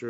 Your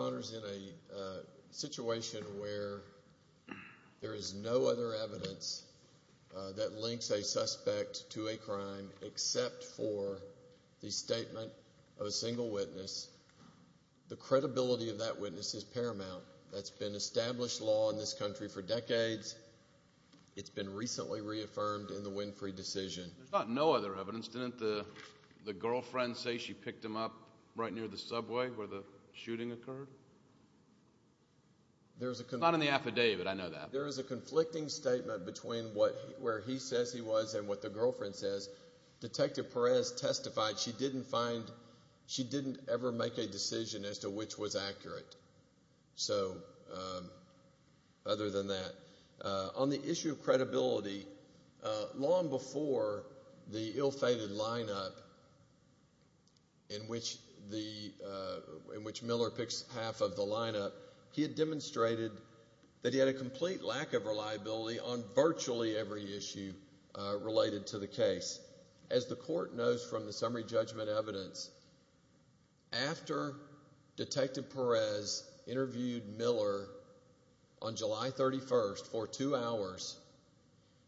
Honor, in a situation where there is no other evidence that links a suspect to a crime except for the statement of a single witness, the credibility of that witness is If the victim was in the West Country for decades, it's been recently reaffirmed in the Winfrey decision. There is a conflicting statement between where he says he was and what the girlfriend says. Detective Perez testified that she didn't ever make a decision as to which was accurate. So other than that, on the issue of credibility, long before the ill-fated lineup in which Miller picks half of the lineup, he had demonstrated that he had a complete lack of reliability on virtually every issue related to the case. As the court knows from the summary judgment evidence, after Detective Perez interviewed Miller on July 31st for two hours,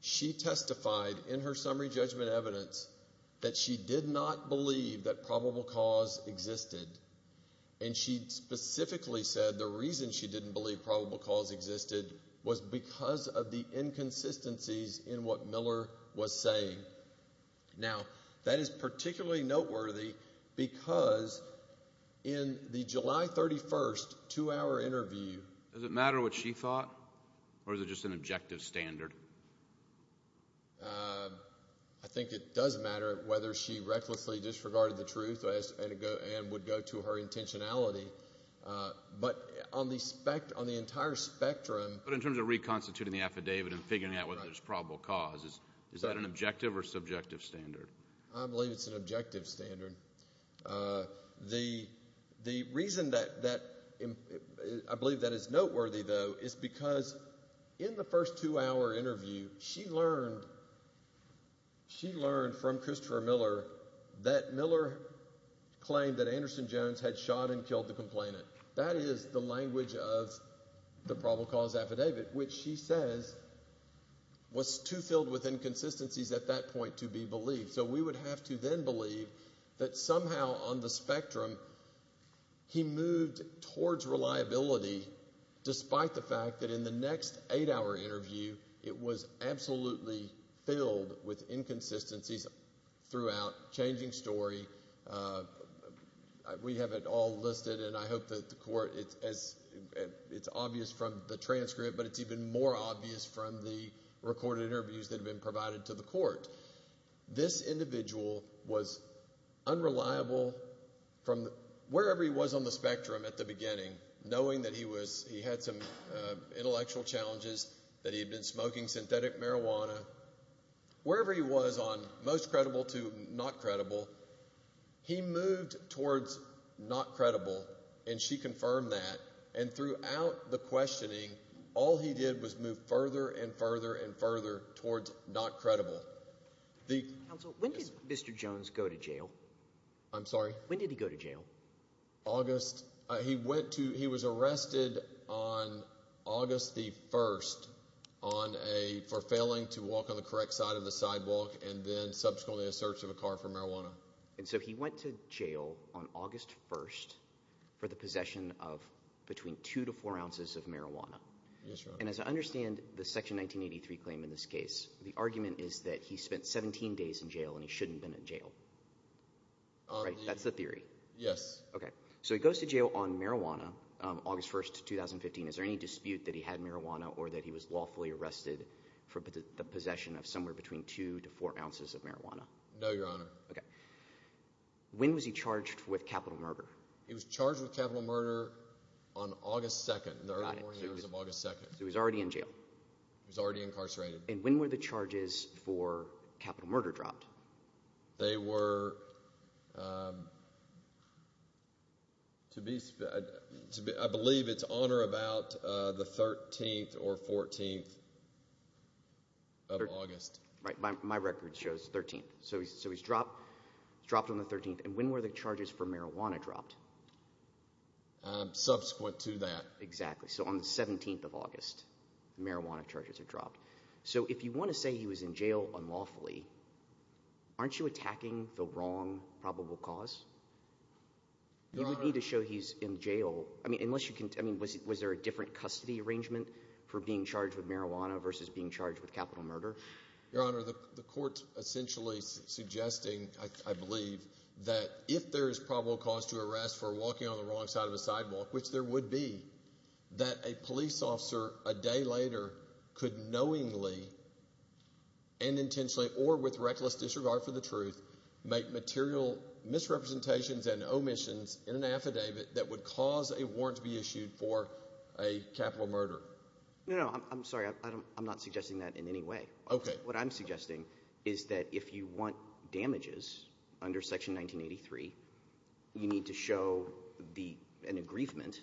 she testified in her summary judgment evidence that she did not believe that probable cause existed. And she specifically said the reason she didn't believe probable cause existed was because of the inconsistencies in what Miller was saying. Now, that is particularly noteworthy because in the July 31st two-hour interview... Does it matter what she thought or is it just an objective standard? I think it does matter whether she recklessly disregarded the truth and would go to her intentionality. But on the entire spectrum... But in terms of reconstituting the affidavit and figuring out whether there's probable cause, is that an objective or subjective standard? I believe it's an objective standard. The reason that I believe that is noteworthy, though, is because in the first two-hour interview, she learned from Christopher Miller that Miller claimed that Anderson Jones had shot and killed the complainant. That is the language of the probable cause affidavit, which she says was too filled with inconsistencies at that point to be believed. So we would have to then believe that somehow on the spectrum, he moved towards reliability despite the fact that in the next eight-hour interview, it was absolutely filled with inconsistencies throughout, changing story. We have it all listed, and I hope that the court... It's obvious from the transcript, but it's even more obvious from the recorded interviews that have been provided to the court. This individual was unreliable from wherever he was on the spectrum at the beginning, knowing that he had some intellectual challenges, that he had been smoking synthetic marijuana. Wherever he was on most credible to not credible, he moved towards not credible, and she confirmed that. And throughout the questioning, all he did was move further and further and further towards not credible. The... Counsel, when did Mr. Jones go to jail? I'm sorry? When did he go to jail? August. He went to... He was arrested on August the 1st on a... for failing to walk on the correct side of the sidewalk and then subsequently a search of a car for marijuana. And so he went to jail on August 1st for the possession of between two to four ounces of marijuana. Yes, Your Honor. And as I understand the Section 1983 claim in this case, the argument is that he spent 17 days in jail and he shouldn't have been in jail, right? That's the theory. Yes. Okay. So he goes to jail on marijuana, August 1st, 2015. Is there any dispute that he had marijuana or that he was lawfully arrested for the possession of somewhere between two to four ounces of marijuana? No, Your Honor. Okay. When was he charged with capital murder? He was charged with capital murder on August 2nd, the early morning hours of August 2nd. So he was already in jail? He was already incarcerated. And when were the charges for capital murder dropped? They were, I believe it's on or about the 13th or 14th of August. Right. My record shows 13th. So he's dropped on the 13th. And when were the charges for marijuana dropped? Subsequent to that. Exactly. So on the 17th of August, the marijuana charges were dropped. So if you want to say he was in jail unlawfully, aren't you attacking the wrong probable cause? You would need to show he's in jail. I mean, was there a different custody arrangement for being charged with marijuana versus being charged with capital murder? Your Honor, the court's essentially suggesting, I believe, that if there is probable cause to arrest for walking on the wrong side of a sidewalk, which there would be, that a police officer, a day later, could knowingly and intentionally or with reckless disregard for the truth, make material misrepresentations and omissions in an affidavit that would cause a warrant to be issued for a capital murder. No, no. I'm sorry. I'm not suggesting that in any way. What I'm suggesting is that if you want damages under Section 1983, you need to show an aggrievement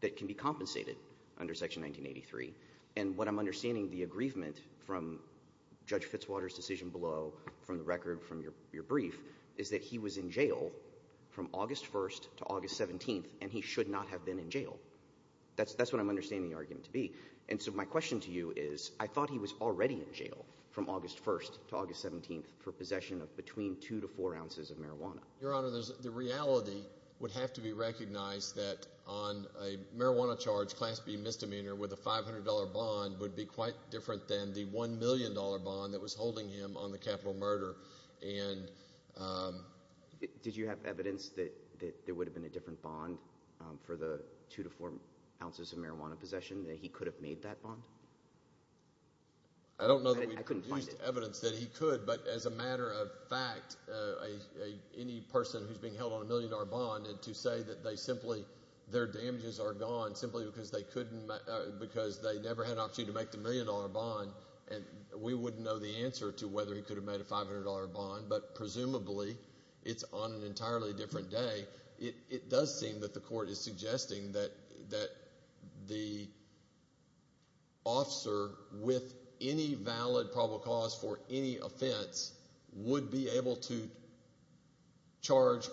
that can be compensated under Section 1983. And what I'm understanding the aggrievement from Judge Fitzwater's decision below, from the record, from your brief, is that he was in jail from August 1st to August 17th, and he should not have been in jail. That's what I'm understanding the argument to be. And so my question to you is, I thought he was already in jail from August 1st to August 17th for possession of between two to four ounces of marijuana. Your Honor, the reality would have to be recognized that on a marijuana charge, Class B misdemeanor, with a $500 bond would be quite different than the $1 million bond that was holding him on the capital murder. Did you have evidence that there would have been a different bond for the two to four ounces of marijuana possession, that he could have made that bond? I don't know that we produced evidence that he could. But as a matter of fact, any person who's being held on a $1 million bond, and to say that they simply, their damages are gone simply because they never had an opportunity to make the $1 million bond, we wouldn't know the answer to whether he could have made a $500 bond. But presumably, it's on an entirely different day. It does seem that the Court is suggesting that the officer, with any valid probable cause for any offense, would be able to charge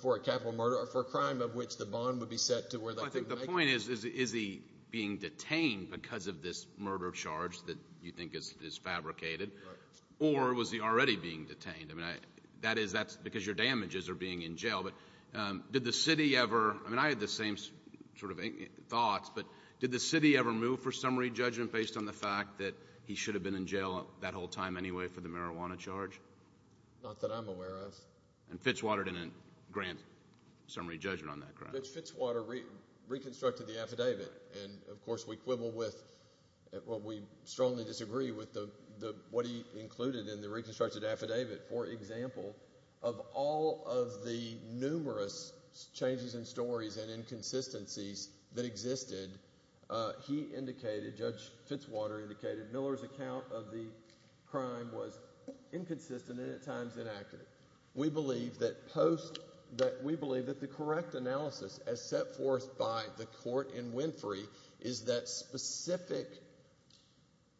for a capital murder or for a crime of which the bond would be set to where they could make it. I think the point is, is he being detained because of this murder charge that you think is fabricated? Right. Or was he already being detained? I mean, that is, that's because your damages are being in jail. But did the city ever, I mean, I had the same sort of thoughts, but did the city ever move for summary judgment based on the fact that he should have been in jail that whole time anyway for the marijuana charge? Not that I'm aware of. And Fitzwater didn't grant summary judgment on that crime? Fitzwater reconstructed the affidavit, and of course, we quibble with, well, we strongly disagree with what he included in the reconstructed affidavit. For example, of all of the numerous changes in stories and inconsistencies that existed, he indicated, Judge Fitzwater indicated Miller's account of the crime was inconsistent and at times inaccurate. We believe that post, that we believe that the correct analysis as set forth by the court in Winfrey is that specific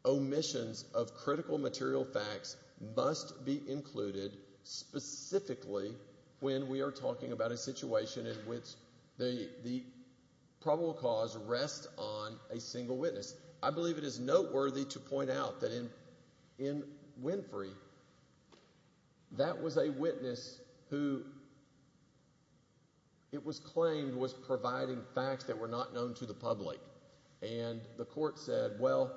omissions of critical material facts must be included specifically when we are talking about a situation in which the probable cause rests on a single witness. I believe it is noteworthy to point out that in Winfrey, that was a witness who it was claimed was providing facts that were not known to the public. And the court said, well,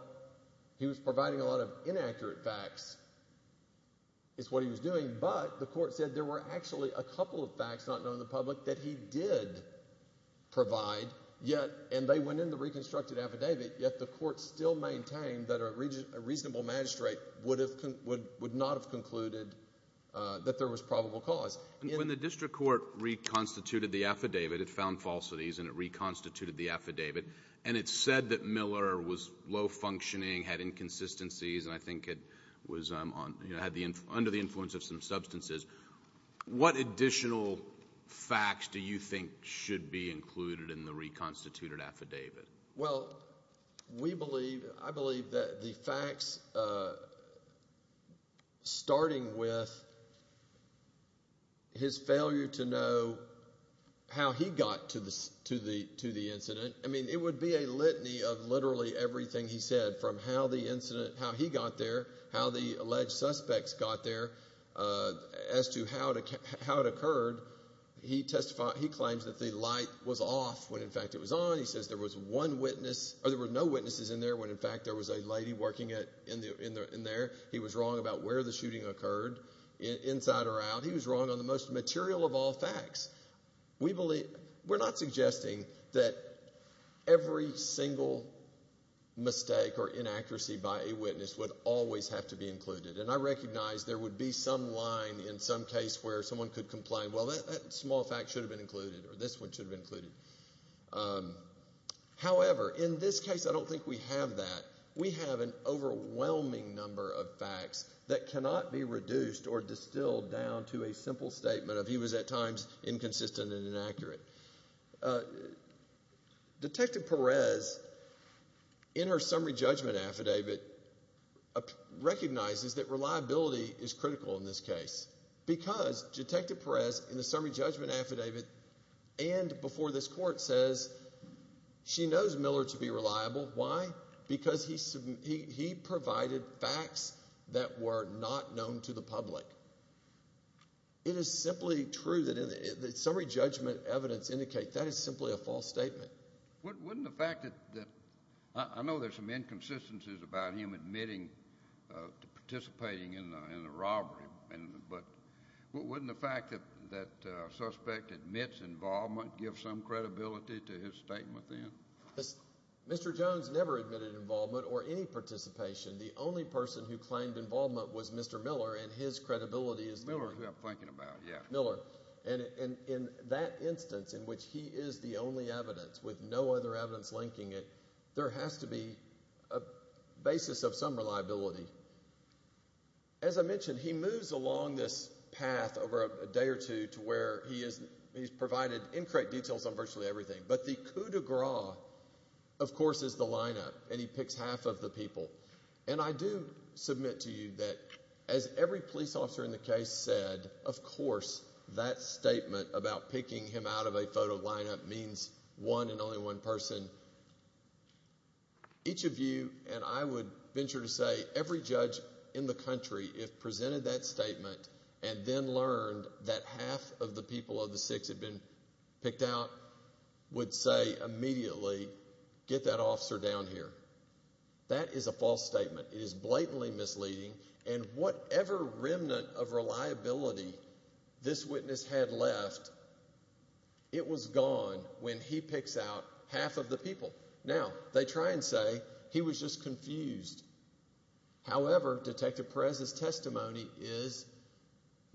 he was providing a lot of inaccurate facts is what he was doing, but the court said there were actually a couple of facts not known to the public that he did provide, yet, and they went in the reconstructed affidavit, yet the court still maintained that a reasonable magistrate would not have concluded that there was probable cause. When the district court reconstituted the affidavit, it found falsities and it reconstituted the affidavit, and it said that Miller was low-functioning, had inconsistencies, and I think it was under the influence of some substances. What additional facts do you think should be included in the reconstituted affidavit? Well, we believe, I believe that the facts starting with his failure to know how he got to the incident, I mean, it would be a litany of literally everything he said from how the incident, how he got there, how the alleged suspects got there, as to how it occurred. He claims that the light was off when, in fact, it was on. He says there was one witness, or there were no witnesses in there when, in fact, there was a lady working in there. He was wrong about where the shooting occurred, inside or out. He was wrong on the most material of all facts. We believe, we're not suggesting that every single mistake or inaccuracy by a witness would always have to be included, and I recognize there would be some line in some case where someone could complain, well, that small fact should have been included, or this one should have been included. However, in this case, I don't think we have that. We have an overwhelming number of facts that cannot be reduced or distilled down to a simple statement of he was at times inconsistent and inaccurate. Detective Perez, in her summary judgment affidavit, recognizes that reliability is critical in this case because Detective Perez, in the summary judgment affidavit and before this court, says she knows Miller to be reliable. Why? Because he provided facts that were not known to the public. It is simply true that summary judgment evidence indicates that is simply a false statement. Wouldn't the fact that, I know there's some inconsistencies about him admitting to participating in the robbery, but wouldn't the fact that a suspect admits involvement give some credibility to his statement then? Mr. Jones never admitted involvement or any participation. The only person who claimed involvement was Mr. Miller, and his credibility is Miller. Miller, who I'm thinking about, yeah. Miller. And in that instance in which he is the only evidence with no other evidence linking it, there has to be a basis of some reliability. As I mentioned, he moves along this path over a day or two to where he's provided incorrect details on virtually everything. But the coup de grace, of course, is the lineup, and he picks half of the people. And I do submit to you that, as every police officer in the case said, of course that statement about picking him out of a photo lineup means one and only one person. Each of you, and I would venture to say every judge in the country, if presented that statement and then learned that half of the people of the six had been picked out, would say immediately, get that officer down here. That is a false statement. It is blatantly misleading, and whatever remnant of reliability this witness had left, it was gone when he picks out half of the people. Now, they try and say he was just confused. However, Detective Perez's testimony is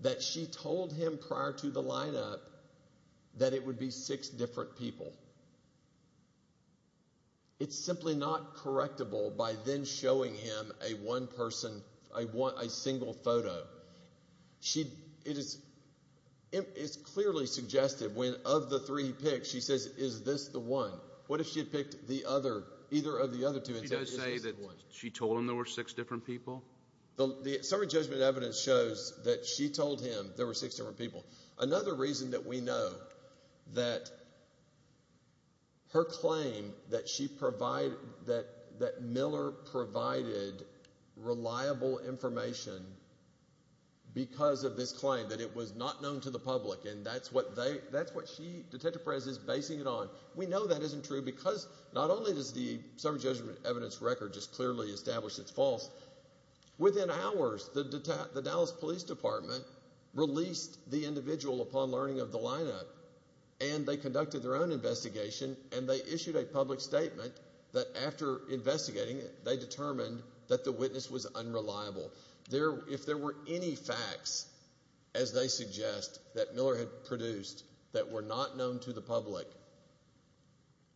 that she told him prior to the lineup that it would be six different people. It's simply not correctable by then showing him a one person, a single photo. It is clearly suggested when of the three he picked, she says, is this the one? What if she had picked the other, either of the other two, and said, is this the one? Did she just say that she told him there were six different people? The summary judgment evidence shows that she told him there were six different people. Another reason that we know that her claim that she provided, that Miller provided reliable information because of this claim, that it was not known to the public, and that's what she, Detective Perez, is basing it on. We know that isn't true because not only does the summary judgment evidence record just clearly establish it's false. Within hours, the Dallas Police Department released the individual upon learning of the lineup, and they conducted their own investigation, and they issued a public statement that after investigating it, they determined that the witness was unreliable. If there were any facts, as they suggest, that Miller had produced that were not known to the public,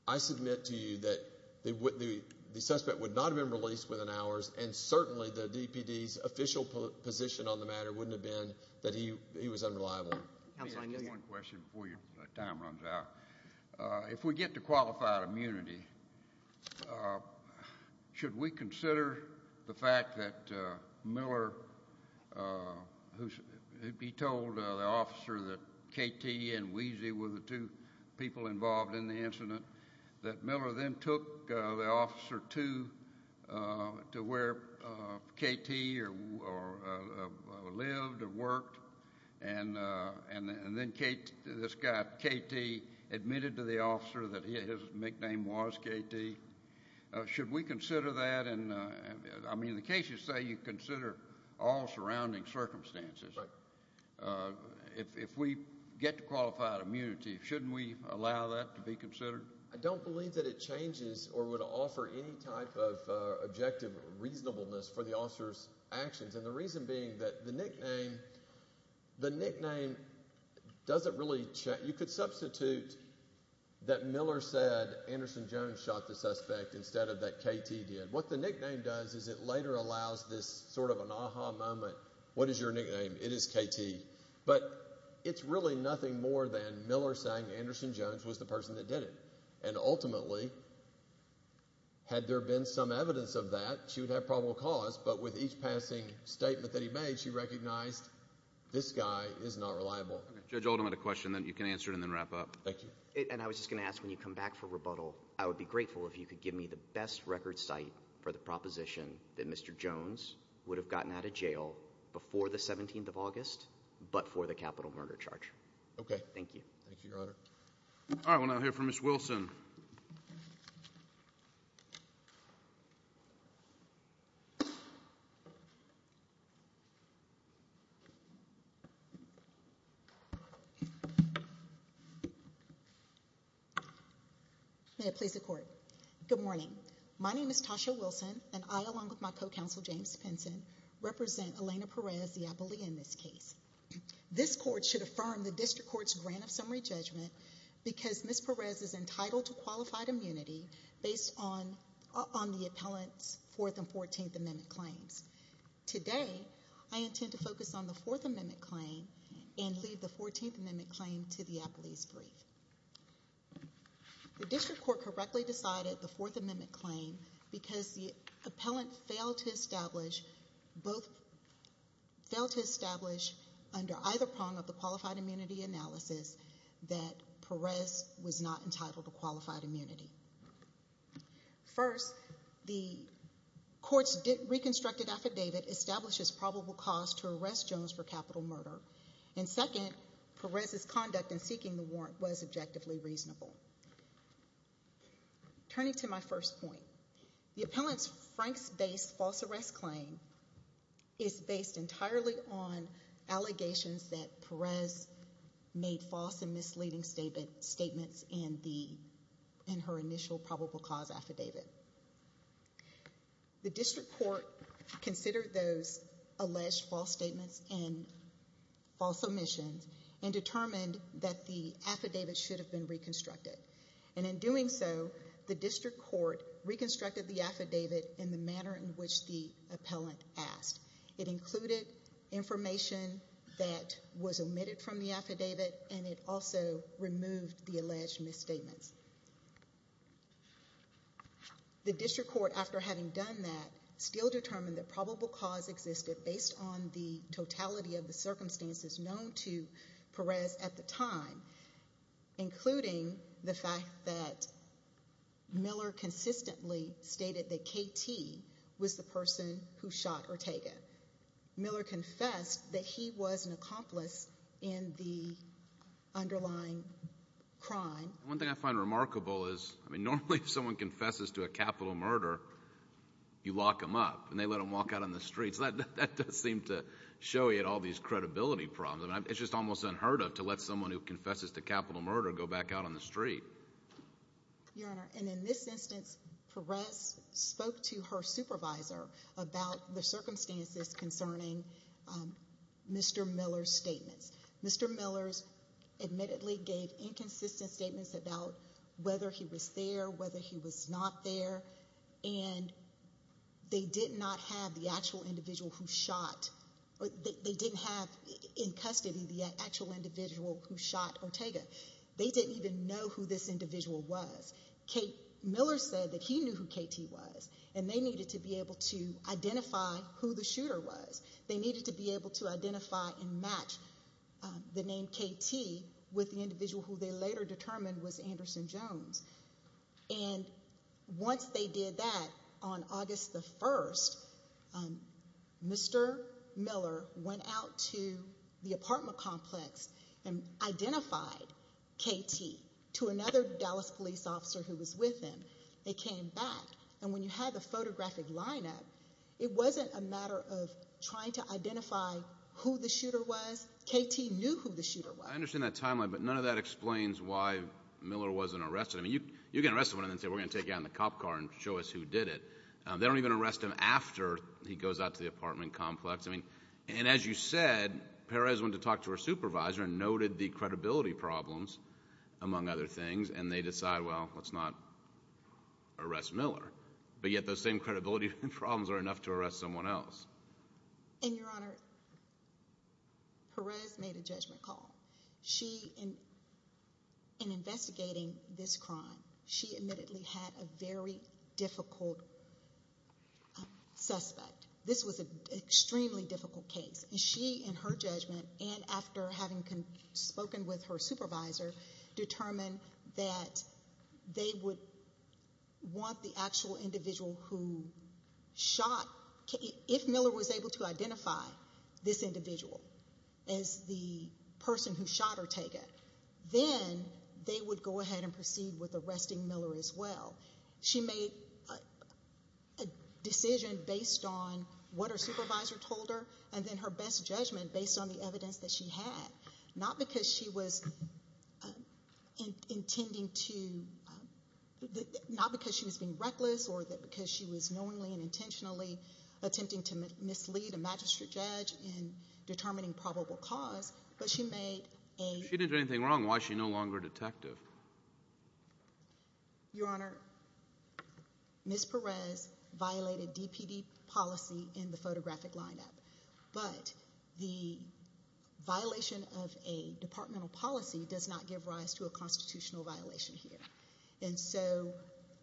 I submit to you that the suspect would not have been released within hours, and certainly the DPD's official position on the matter wouldn't have been that he was unreliable. Let me ask you one question before your time runs out. If we get to qualified immunity, should we consider the fact that Miller, who he told the officer that KT and Weezy were the two people involved in the incident, that Miller then took the officer to where KT lived or worked, and then this guy, KT, admitted to the officer that his nickname was KT? Should we consider that? I mean, in the case you say you consider all surrounding circumstances. If we get to qualified immunity, shouldn't we allow that to be considered? I don't believe that it changes or would offer any type of objective reasonableness for the officer's actions, and the reason being that the nickname doesn't really change. You could substitute that Miller said Anderson Jones shot the suspect instead of that KT did. What the nickname does is it later allows this sort of an aha moment. What is your nickname? It is KT. But it's really nothing more than Miller saying Anderson Jones was the person that did it, and ultimately, had there been some evidence of that, she would have probable cause, but with each passing statement that he made, she recognized this guy is not reliable. Judge Oldham had a question, and you can answer it and then wrap up. Thank you. And I was just going to ask, when you come back for rebuttal, I would be grateful if you could give me the best record site for the proposition that Mr. Jones would have gotten out of jail before the 17th of August but for the capital murder charge. Okay. Thank you. Thank you, Your Honor. All right, we'll now hear from Ms. Wilson. Ms. Wilson. May it please the Court. Good morning. My name is Tasha Wilson, and I, along with my co-counsel, James Pinson, represent Elena Perez, the appellee in this case. This Court should affirm the District Court's grant of summary judgment because Ms. Perez is entitled to qualified immunity based on the appellant's Fourth and Fourteenth Amendment claims. Today, I intend to focus on the Fourth Amendment claim and leave the Fourteenth Amendment claim to the appellee's brief. The District Court correctly decided the Fourth Amendment claim because the appellant failed to establish under either prong of the qualified immunity analysis that Perez was not entitled to qualified immunity. First, the Court's reconstructed affidavit establishes probable cause to arrest Jones for capital murder, and second, Perez's conduct in seeking the warrant was objectively reasonable. Turning to my first point, the appellant's Franks-based false arrest claim is based entirely on allegations that Perez made false and misleading statements in her initial probable cause affidavit. The District Court considered those alleged false statements and false omissions and determined that the affidavit should have been reconstructed, and in doing so, the District Court reconstructed the affidavit in the manner in which the appellant asked. It included information that was omitted from the affidavit, and it also removed the alleged misstatements. The District Court, after having done that, still determined that probable cause existed based on the totality of the circumstances known to Perez at the time, including the fact that Miller consistently stated that K.T. was the person who shot Ortega. Miller confessed that he was an accomplice in the underlying crime. One thing I find remarkable is, I mean, normally if someone confesses to a capital murder, you lock them up, and they let them walk out on the street, so that does seem to show you all these credibility problems. It's just almost unheard of to let someone who confesses to capital murder go back out on the street. Your Honor, and in this instance, Perez spoke to her supervisor about the circumstances concerning Mr. Miller's statements. Mr. Miller admittedly gave inconsistent statements about whether he was there, whether he was not there, and they did not have the actual individual who shot, they didn't have in custody the actual individual who shot Ortega. They didn't even know who this individual was. Miller said that he knew who K.T. was, and they needed to be able to identify who the shooter was. They needed to be able to identify and match the name K.T. with the individual who they later determined was Anderson Jones. And once they did that, on August 1st, Mr. Miller went out to the apartment complex and identified K.T. to another Dallas police officer who was with him. They came back, and when you have the photographic lineup, it wasn't a matter of trying to identify who the shooter was. K.T. knew who the shooter was. I understand that timeline, but none of that explains why Miller wasn't arrested. I mean, you can arrest someone and then say, we're going to take you out in the cop car and show us who did it. They don't even arrest him after he goes out to the apartment complex. And as you said, Perez went to talk to her supervisor and noted the credibility problems, among other things, and they decide, well, let's not arrest Miller. But yet those same credibility problems are enough to arrest someone else. And, Your Honor, Perez made a judgment call. In investigating this crime, she admittedly had a very difficult suspect. This was an extremely difficult case. And she, in her judgment, and after having spoken with her supervisor, determined that they would want the actual individual who shot K.T. If Miller was able to identify this individual as the person who shot Ortega, then they would go ahead and proceed with arresting Miller as well. She made a decision based on what her supervisor told her and then her best judgment based on the evidence that she had, not because she was being reckless or because she was knowingly and intentionally attempting to mislead a magistrate judge in determining probable cause, but she made a— If she didn't do anything wrong, why is she no longer a detective? Your Honor, Ms. Perez violated DPD policy in the photographic lineup. But the violation of a departmental policy does not give rise to a constitutional violation here. And so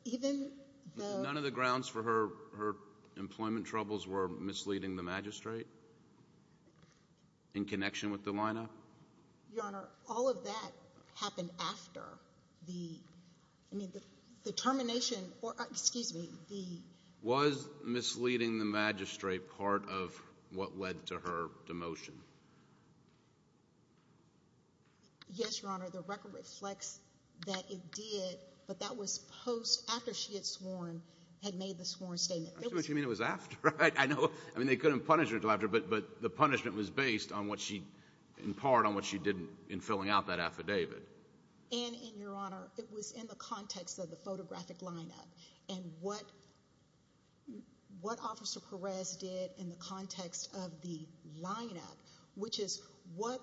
even though— None of the grounds for her employment troubles were misleading the magistrate in connection with the lineup? Your Honor, all of that happened after the termination or—excuse me, the— Was misleading the magistrate part of what led to her demotion? Yes, Your Honor, the record reflects that it did, but that was post—after she had sworn, had made the sworn statement. That's what you mean it was after, right? I know—I mean, they couldn't punish her until after, but the punishment was based on what she—in part on what she did in filling out that affidavit. And, Your Honor, it was in the context of the photographic lineup. And what Officer Perez did in the context of the lineup, which is what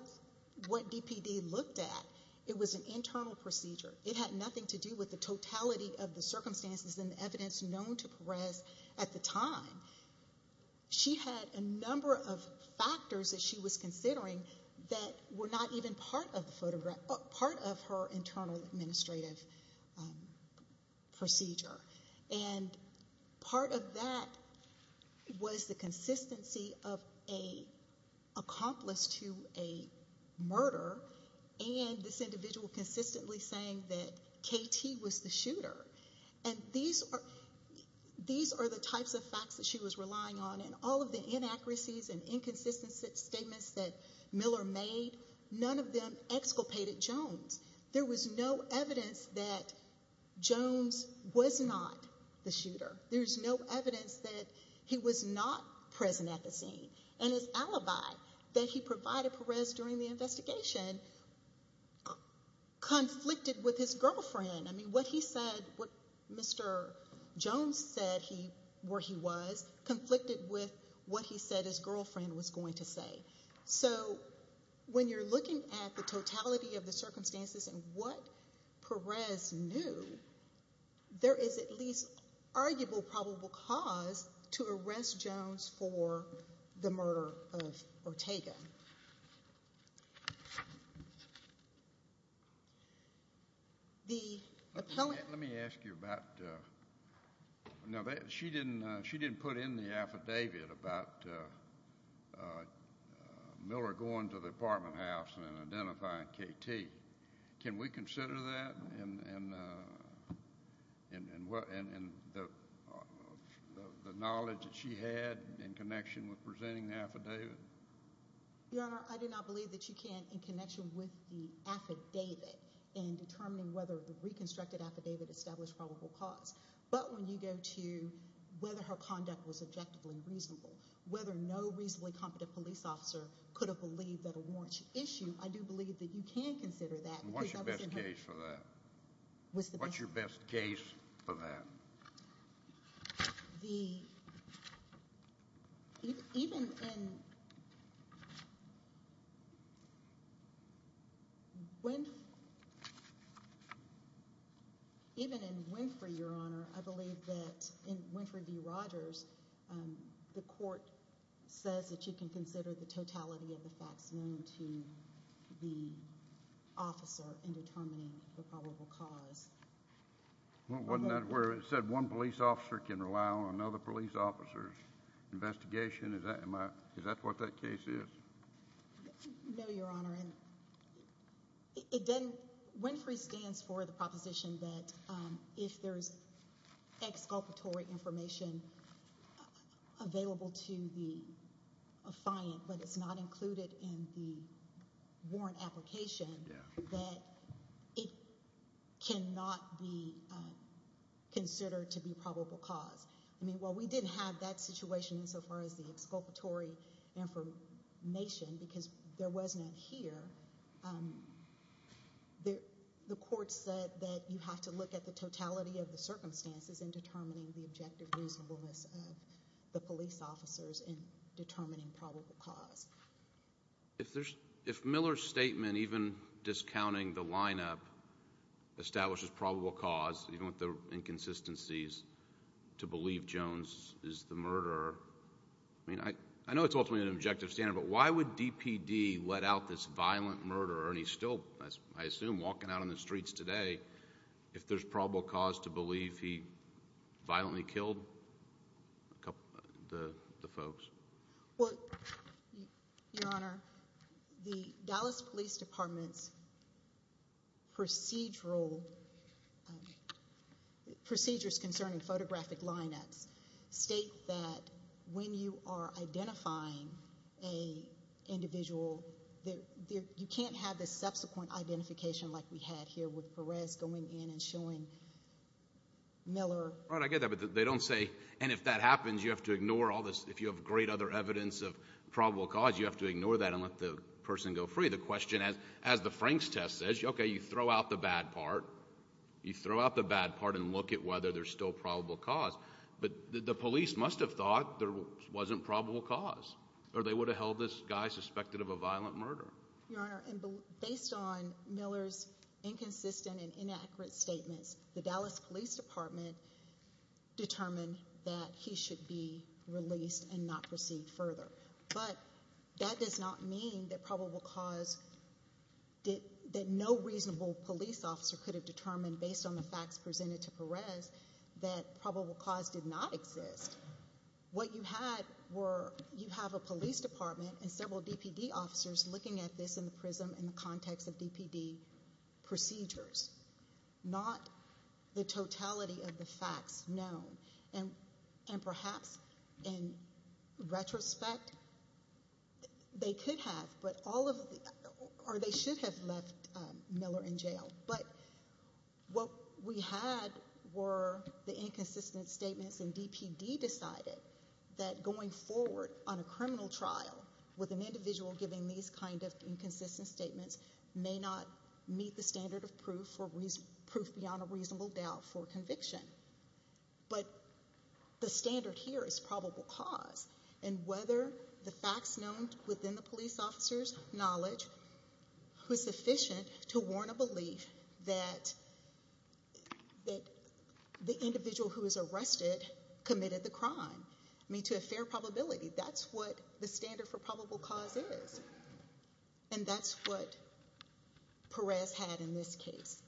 DPD looked at, it was an internal procedure. It had nothing to do with the totality of the circumstances and the evidence known to Perez at the time. She had a number of factors that she was considering that were not even part of the photograph— and part of that was the consistency of an accomplice to a murder and this individual consistently saying that K.T. was the shooter. And these are the types of facts that she was relying on, and all of the inaccuracies and inconsistencies statements that Miller made, none of them exculpated Jones. There was no evidence that Jones was not the shooter. There was no evidence that he was not present at the scene. And his alibi that he provided Perez during the investigation conflicted with his girlfriend. I mean, what he said—what Mr. Jones said where he was conflicted with what he said his girlfriend was going to say. So when you're looking at the totality of the circumstances and what Perez knew, there is at least arguable probable cause to arrest Jones for the murder of Ortega. Thank you. The— Let me ask you about— she didn't put in the affidavit about Miller going to the apartment house and identifying K.T. Can we consider that and the knowledge that she had in connection with presenting the affidavit? Your Honor, I do not believe that you can in connection with the affidavit in determining whether the reconstructed affidavit established probable cause. But when you go to whether her conduct was objectively reasonable, whether no reasonably competent police officer could have believed that a warrant should issue, I do believe that you can consider that. What's your best case for that? What's the best case? What's your best case for that? The—even in Winfrey, Your Honor, I believe that in Winfrey v. Rogers, the court says that you can consider the totality of the facts known to the officer in determining the probable cause. Wasn't that where it said one police officer can rely on another police officer's investigation? Is that what that case is? No, Your Honor. It doesn't—Winfrey stands for the proposition that if there is exculpatory information available to the defiant but it's not included in the warrant application, that it cannot be considered to be probable cause. I mean, while we didn't have that situation insofar as the exculpatory information because there wasn't it here, the court said that you have to look at the totality of the circumstances in determining the objective reasonableness of the police officers in determining probable cause. If Miller's statement, even discounting the lineup, establishes probable cause, even with the inconsistencies, to believe Jones is the murderer, I mean, I know it's ultimately an objective standard, but why would DPD let out this violent murderer, and he's still, I assume, walking out on the streets today, if there's probable cause to believe he violently killed the folks? Well, Your Honor, the Dallas Police Department's procedures concerning photographic lineups state that when you are identifying an individual, you can't have the subsequent identification like we had here with Perez going in and showing Miller. Right, I get that, but they don't say, and if that happens, you have to ignore all this. If you have great other evidence of probable cause, you have to ignore that and let the person go free. The question, as the Frank's test says, okay, you throw out the bad part. You throw out the bad part and look at whether there's still probable cause, but the police must have thought there wasn't probable cause, or they would have held this guy suspected of a violent murder. Your Honor, based on Miller's inconsistent and inaccurate statements, the Dallas Police Department determined that he should be released and not proceed further, but that does not mean that probable cause, that no reasonable police officer could have determined, based on the facts presented to Perez, that probable cause did not exist. What you had were, you have a police department and several DPD officers looking at this in the prism and the context of DPD procedures, not the totality of the facts known. And perhaps, in retrospect, they could have, or they should have left Miller in jail, but what we had were the inconsistent statements and DPD decided that going forward on a criminal trial with an individual giving these kind of inconsistent statements may not meet the standard of proof beyond a reasonable doubt for conviction. But the standard here is probable cause, and whether the facts known within the police officer's knowledge was sufficient to warn a belief that the individual who was arrested committed the crime. I mean, to a fair probability, that's what the standard for probable cause is, and that's what Perez had in this case.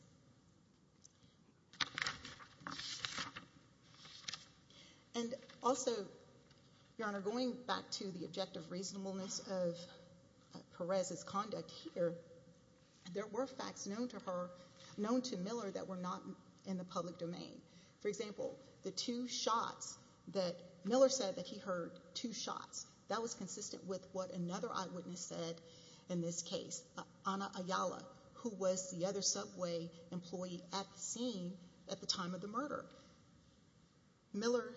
And also, Your Honor, going back to the objective reasonableness of Perez's conduct here, there were facts known to Miller that were not in the public domain. For example, the two shots that Miller said that he heard, two shots, that was consistent with what another eyewitness said in this case, Anna Ayala, who was the other subway employee at the scene at the time of the murder. Miller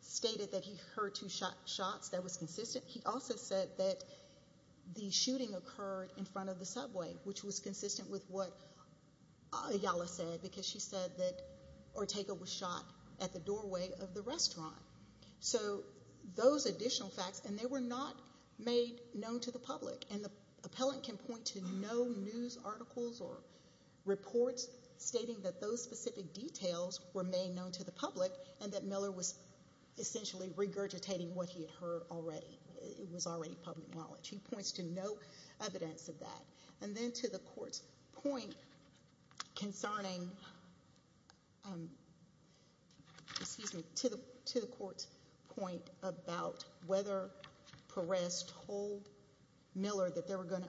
stated that he heard two shots, that was consistent. He also said that the shooting occurred in front of the subway, which was consistent with what Ayala said because she said that Ortega was shot at the doorway of the restaurant. So those additional facts, and they were not made known to the public, and the appellant can point to no news articles or reports stating that those specific details were made known to the public and that Miller was essentially regurgitating what he had heard already. It was already public knowledge. He points to no evidence of that. And then to the court's point about whether Perez told Miller that there were going to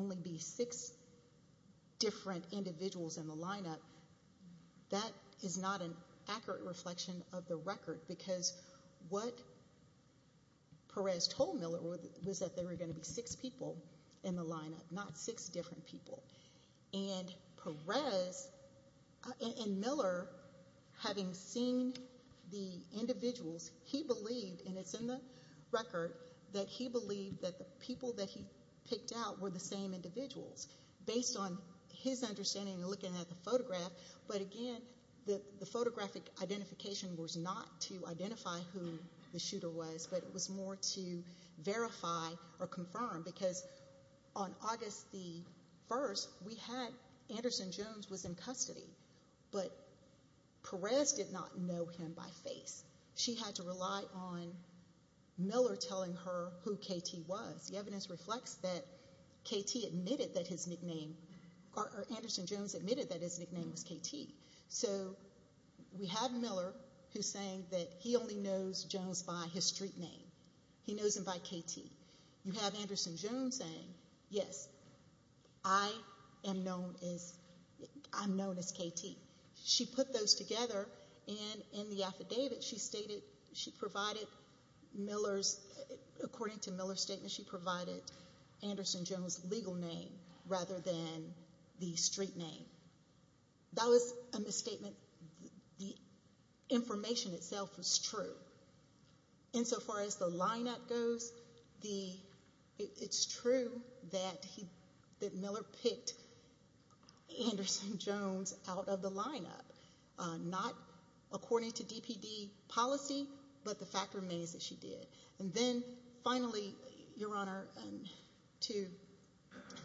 only be six different individuals in the lineup, that is not an accurate reflection of the record because what Perez told Miller was that there were going to be six people in the lineup, not six different people. And Perez and Miller, having seen the individuals, he believed, and it's in the record, that he believed that the people that he picked out were the same individuals based on his understanding looking at the photograph. But again, the photographic identification was not to identify who the shooter was, but it was more to verify or confirm because on August the 1st, Anderson-Jones was in custody, but Perez did not know him by face. She had to rely on Miller telling her who K.T. was. The evidence reflects that Anderson-Jones admitted that his nickname was K.T. So we have Miller who's saying that he only knows Jones by his street name. He knows him by K.T. You have Anderson-Jones saying, yes, I am known as K.T. She put those together, and in the affidavit she stated she provided Miller's, according to Miller's statement, she provided Anderson-Jones' legal name rather than the street name. That was a misstatement. The information itself was true. Insofar as the lineup goes, it's true that Miller picked Anderson-Jones out of the lineup, not according to DPD policy, but the fact remains that she did. Finally, Your Honor, to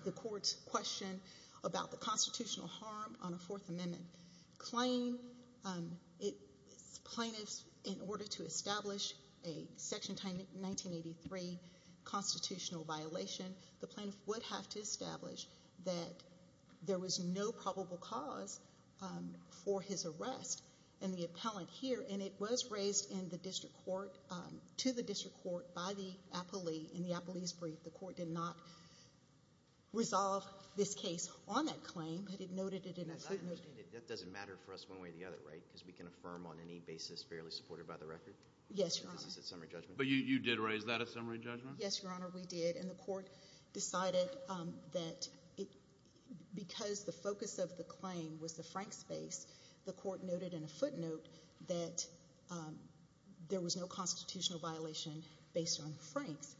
the Court's question about the constitutional harm on a Fourth Amendment claim, plaintiffs, in order to establish a Section 1983 constitutional violation, the plaintiff would have to establish that there was no probable cause for his arrest in the appellant here, and it was raised to the district court by the appellee in the appellee's brief. The court did not resolve this case on that claim, but it noted it in a footnote. That doesn't matter for us one way or the other, right, because we can affirm on any basis fairly supported by the record? Yes, Your Honor. This is a summary judgment. But you did raise that as summary judgment? Yes, Your Honor, we did, and the court decided that because the focus of the claim was the Frank space, the court noted in a footnote that there was no constitutional violation based on Frank's,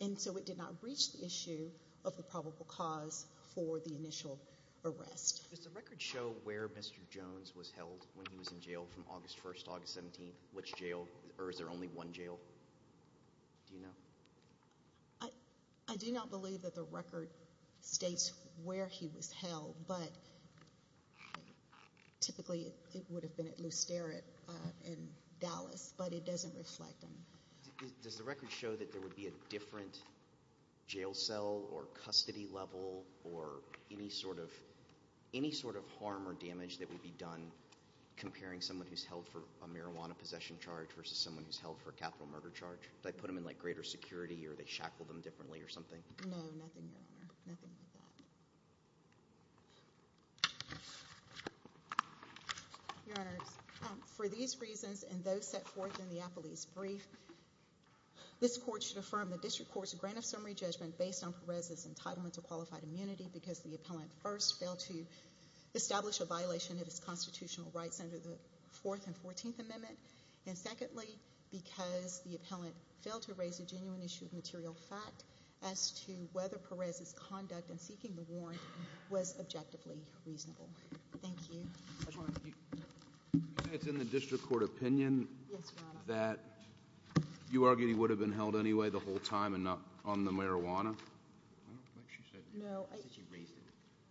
and so it did not reach the issue of the probable cause for the initial arrest. Does the record show where Mr. Jones was held when he was in jail from August 1st to August 17th? Which jail? Or is there only one jail? Do you know? I do not believe that the record states where he was held, but typically it would have been at Lusterit in Dallas, but it doesn't reflect him. Does the record show that there would be a different jail cell or custody level or any sort of harm or damage that would be done comparing someone who's held for a marijuana possession charge versus someone who's held for a capital murder charge? Do they put them in, like, greater security or they shackle them differently or something? No, nothing, Your Honor, nothing like that. Your Honors, for these reasons and those set forth in the appellee's brief, this court should affirm the district court's grant of summary judgment based on Perez's entitlement to qualified immunity because the appellant first failed to establish a violation of his constitutional rights under the Fourth and Fourteenth Amendment, and secondly, because the appellant failed to raise a genuine issue of material fact as to whether Perez's conduct in seeking the warrant was objectively reasonable. Thank you. It's in the district court opinion that you argue he would have been held anyway the whole time and not on the marijuana? No.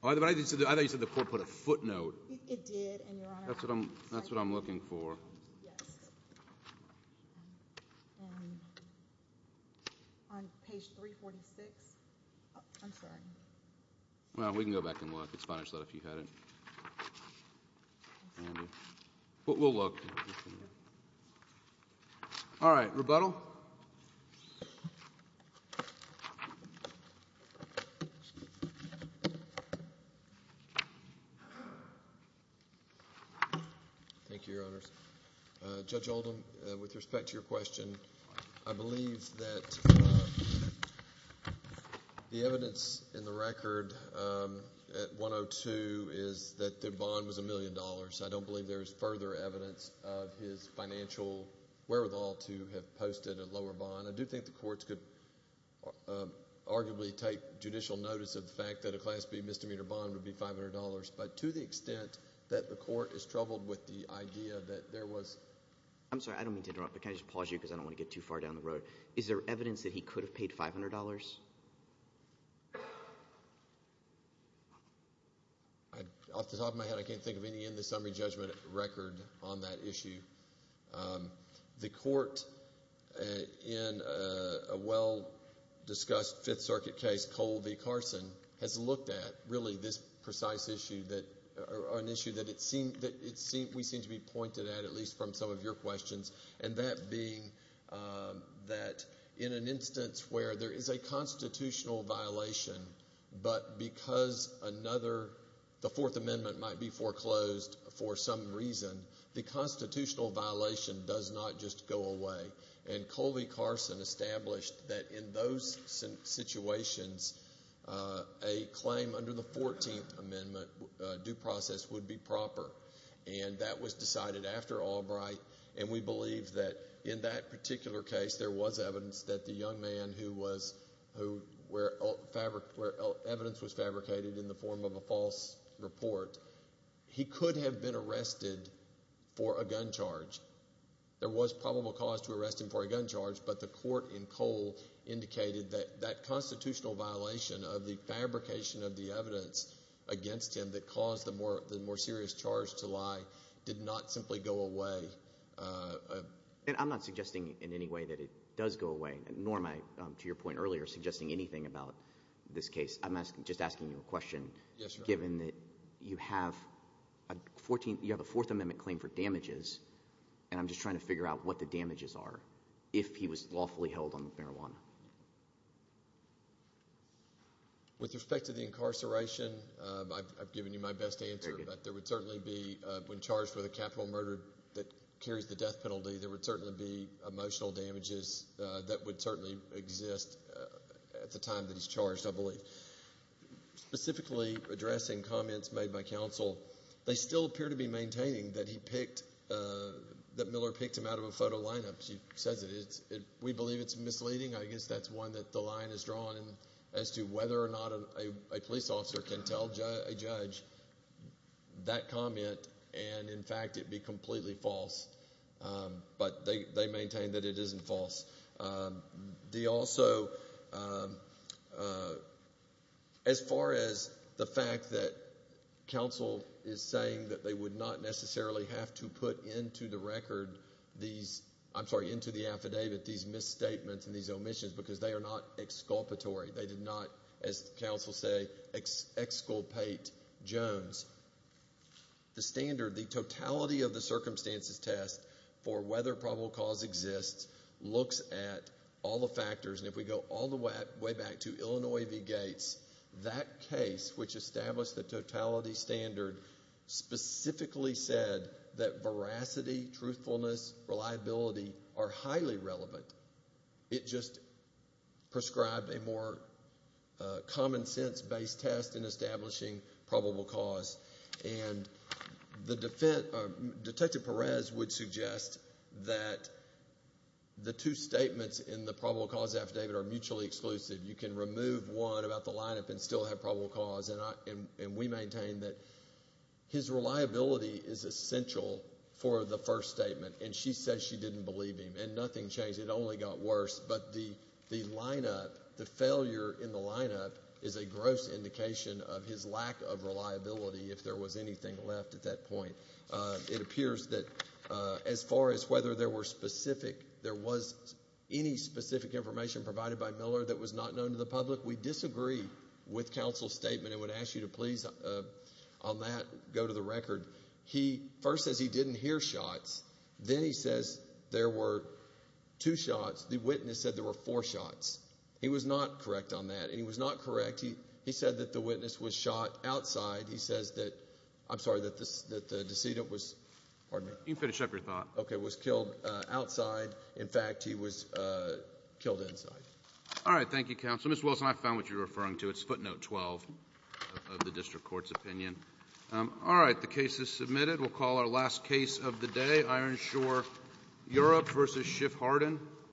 I thought you said the court put a footnote. It did, and Your Honor. That's what I'm looking for. On page 346. I'm sorry. Well, we can go back and look. It's fine if you had it. We'll look. All right. Rebuttal. Thank you, Your Honors. Judge Oldham, with respect to your question, I believe that the evidence in the record at 102 is that the bond was $1 million. I don't believe there is further evidence of his financial wherewithal to have posted a lower bond. I do think the courts could arguably take judicial notice of the fact that a Class B misdemeanor bond would be $500, but to the extent that the court is troubled with the idea that there was – I'm sorry. I don't mean to interrupt, but can I just pause you because I don't want to get too far down the road. Is there evidence that he could have paid $500? Off the top of my head, I can't think of any in the summary judgment record on that issue. The court in a well-discussed Fifth Circuit case, Cole v. Carson, has looked at really this precise issue that – or an issue that we seem to be pointed at, at least from some of your questions, and that being that in an instance where there is a constitutional violation, but because another – the Fourth Amendment might be foreclosed for some reason, the constitutional violation does not just go away. And Cole v. Carson established that in those situations, a claim under the Fourteenth Amendment due process would be proper. And that was decided after Albright, and we believe that in that particular case, there was evidence that the young man who was – where evidence was fabricated in the form of a false report, he could have been arrested for a gun charge. There was probable cause to arrest him for a gun charge, but the court in Cole indicated that that constitutional violation of the fabrication of the evidence against him that caused the more serious charge to lie did not simply go away. And I'm not suggesting in any way that it does go away, nor am I, to your point earlier, suggesting anything about this case. I'm just asking you a question given that you have a Fourth Amendment claim for damages, and I'm just trying to figure out what the damages are if he was lawfully held on marijuana. With respect to the incarceration, I've given you my best answer, but there would certainly be – when charged with a capital murder that carries the death penalty, there would certainly be emotional damages that would certainly exist at the time that he's charged, I believe. Specifically, addressing comments made by counsel, they still appear to be maintaining that he picked – that Miller picked him out of a photo lineup. She says that we believe it's misleading. I guess that's one that the line is drawn as to whether or not a police officer can tell a judge that comment and, in fact, it be completely false. But they maintain that it isn't false. They also – as far as the fact that counsel is saying that they would not necessarily have to put into the record these – I'm sorry, into the affidavit these misstatements and these omissions because they are not exculpatory. They did not, as counsel say, exculpate Jones. The standard, the totality of the circumstances test for whether probable cause exists looks at all the factors, and if we go all the way back to Illinois v. Gates, that case, which established the totality standard, specifically said that veracity, truthfulness, reliability are highly relevant. It just prescribed a more common sense-based test in establishing probable cause. And the – Detective Perez would suggest that the two statements in the probable cause affidavit are mutually exclusive. You can remove one about the lineup and still have probable cause, and we maintain that his reliability is essential for the first statement, and she says she didn't believe him, and nothing changed. It only got worse. But the lineup, the failure in the lineup is a gross indication of his lack of reliability, if there was anything left at that point. It appears that as far as whether there were specific – there was any specific information provided by Miller that was not known to the public, we disagree with counsel's statement and would ask you to please, on that, go to the record. He first says he didn't hear shots. Then he says there were two shots. The witness said there were four shots. He was not correct on that, and he was not correct. He said that the witness was shot outside. He says that – I'm sorry, that the decedent was – pardon me. You can finish up your thought. Okay, was killed outside. In fact, he was killed inside. All right, thank you, counsel. Ms. Wilson, I found what you were referring to. It's footnote 12 of the district court's opinion. All right, the case is submitted. We'll call our last case of the day, Ironshore, Europe v. Schiff-Hardin.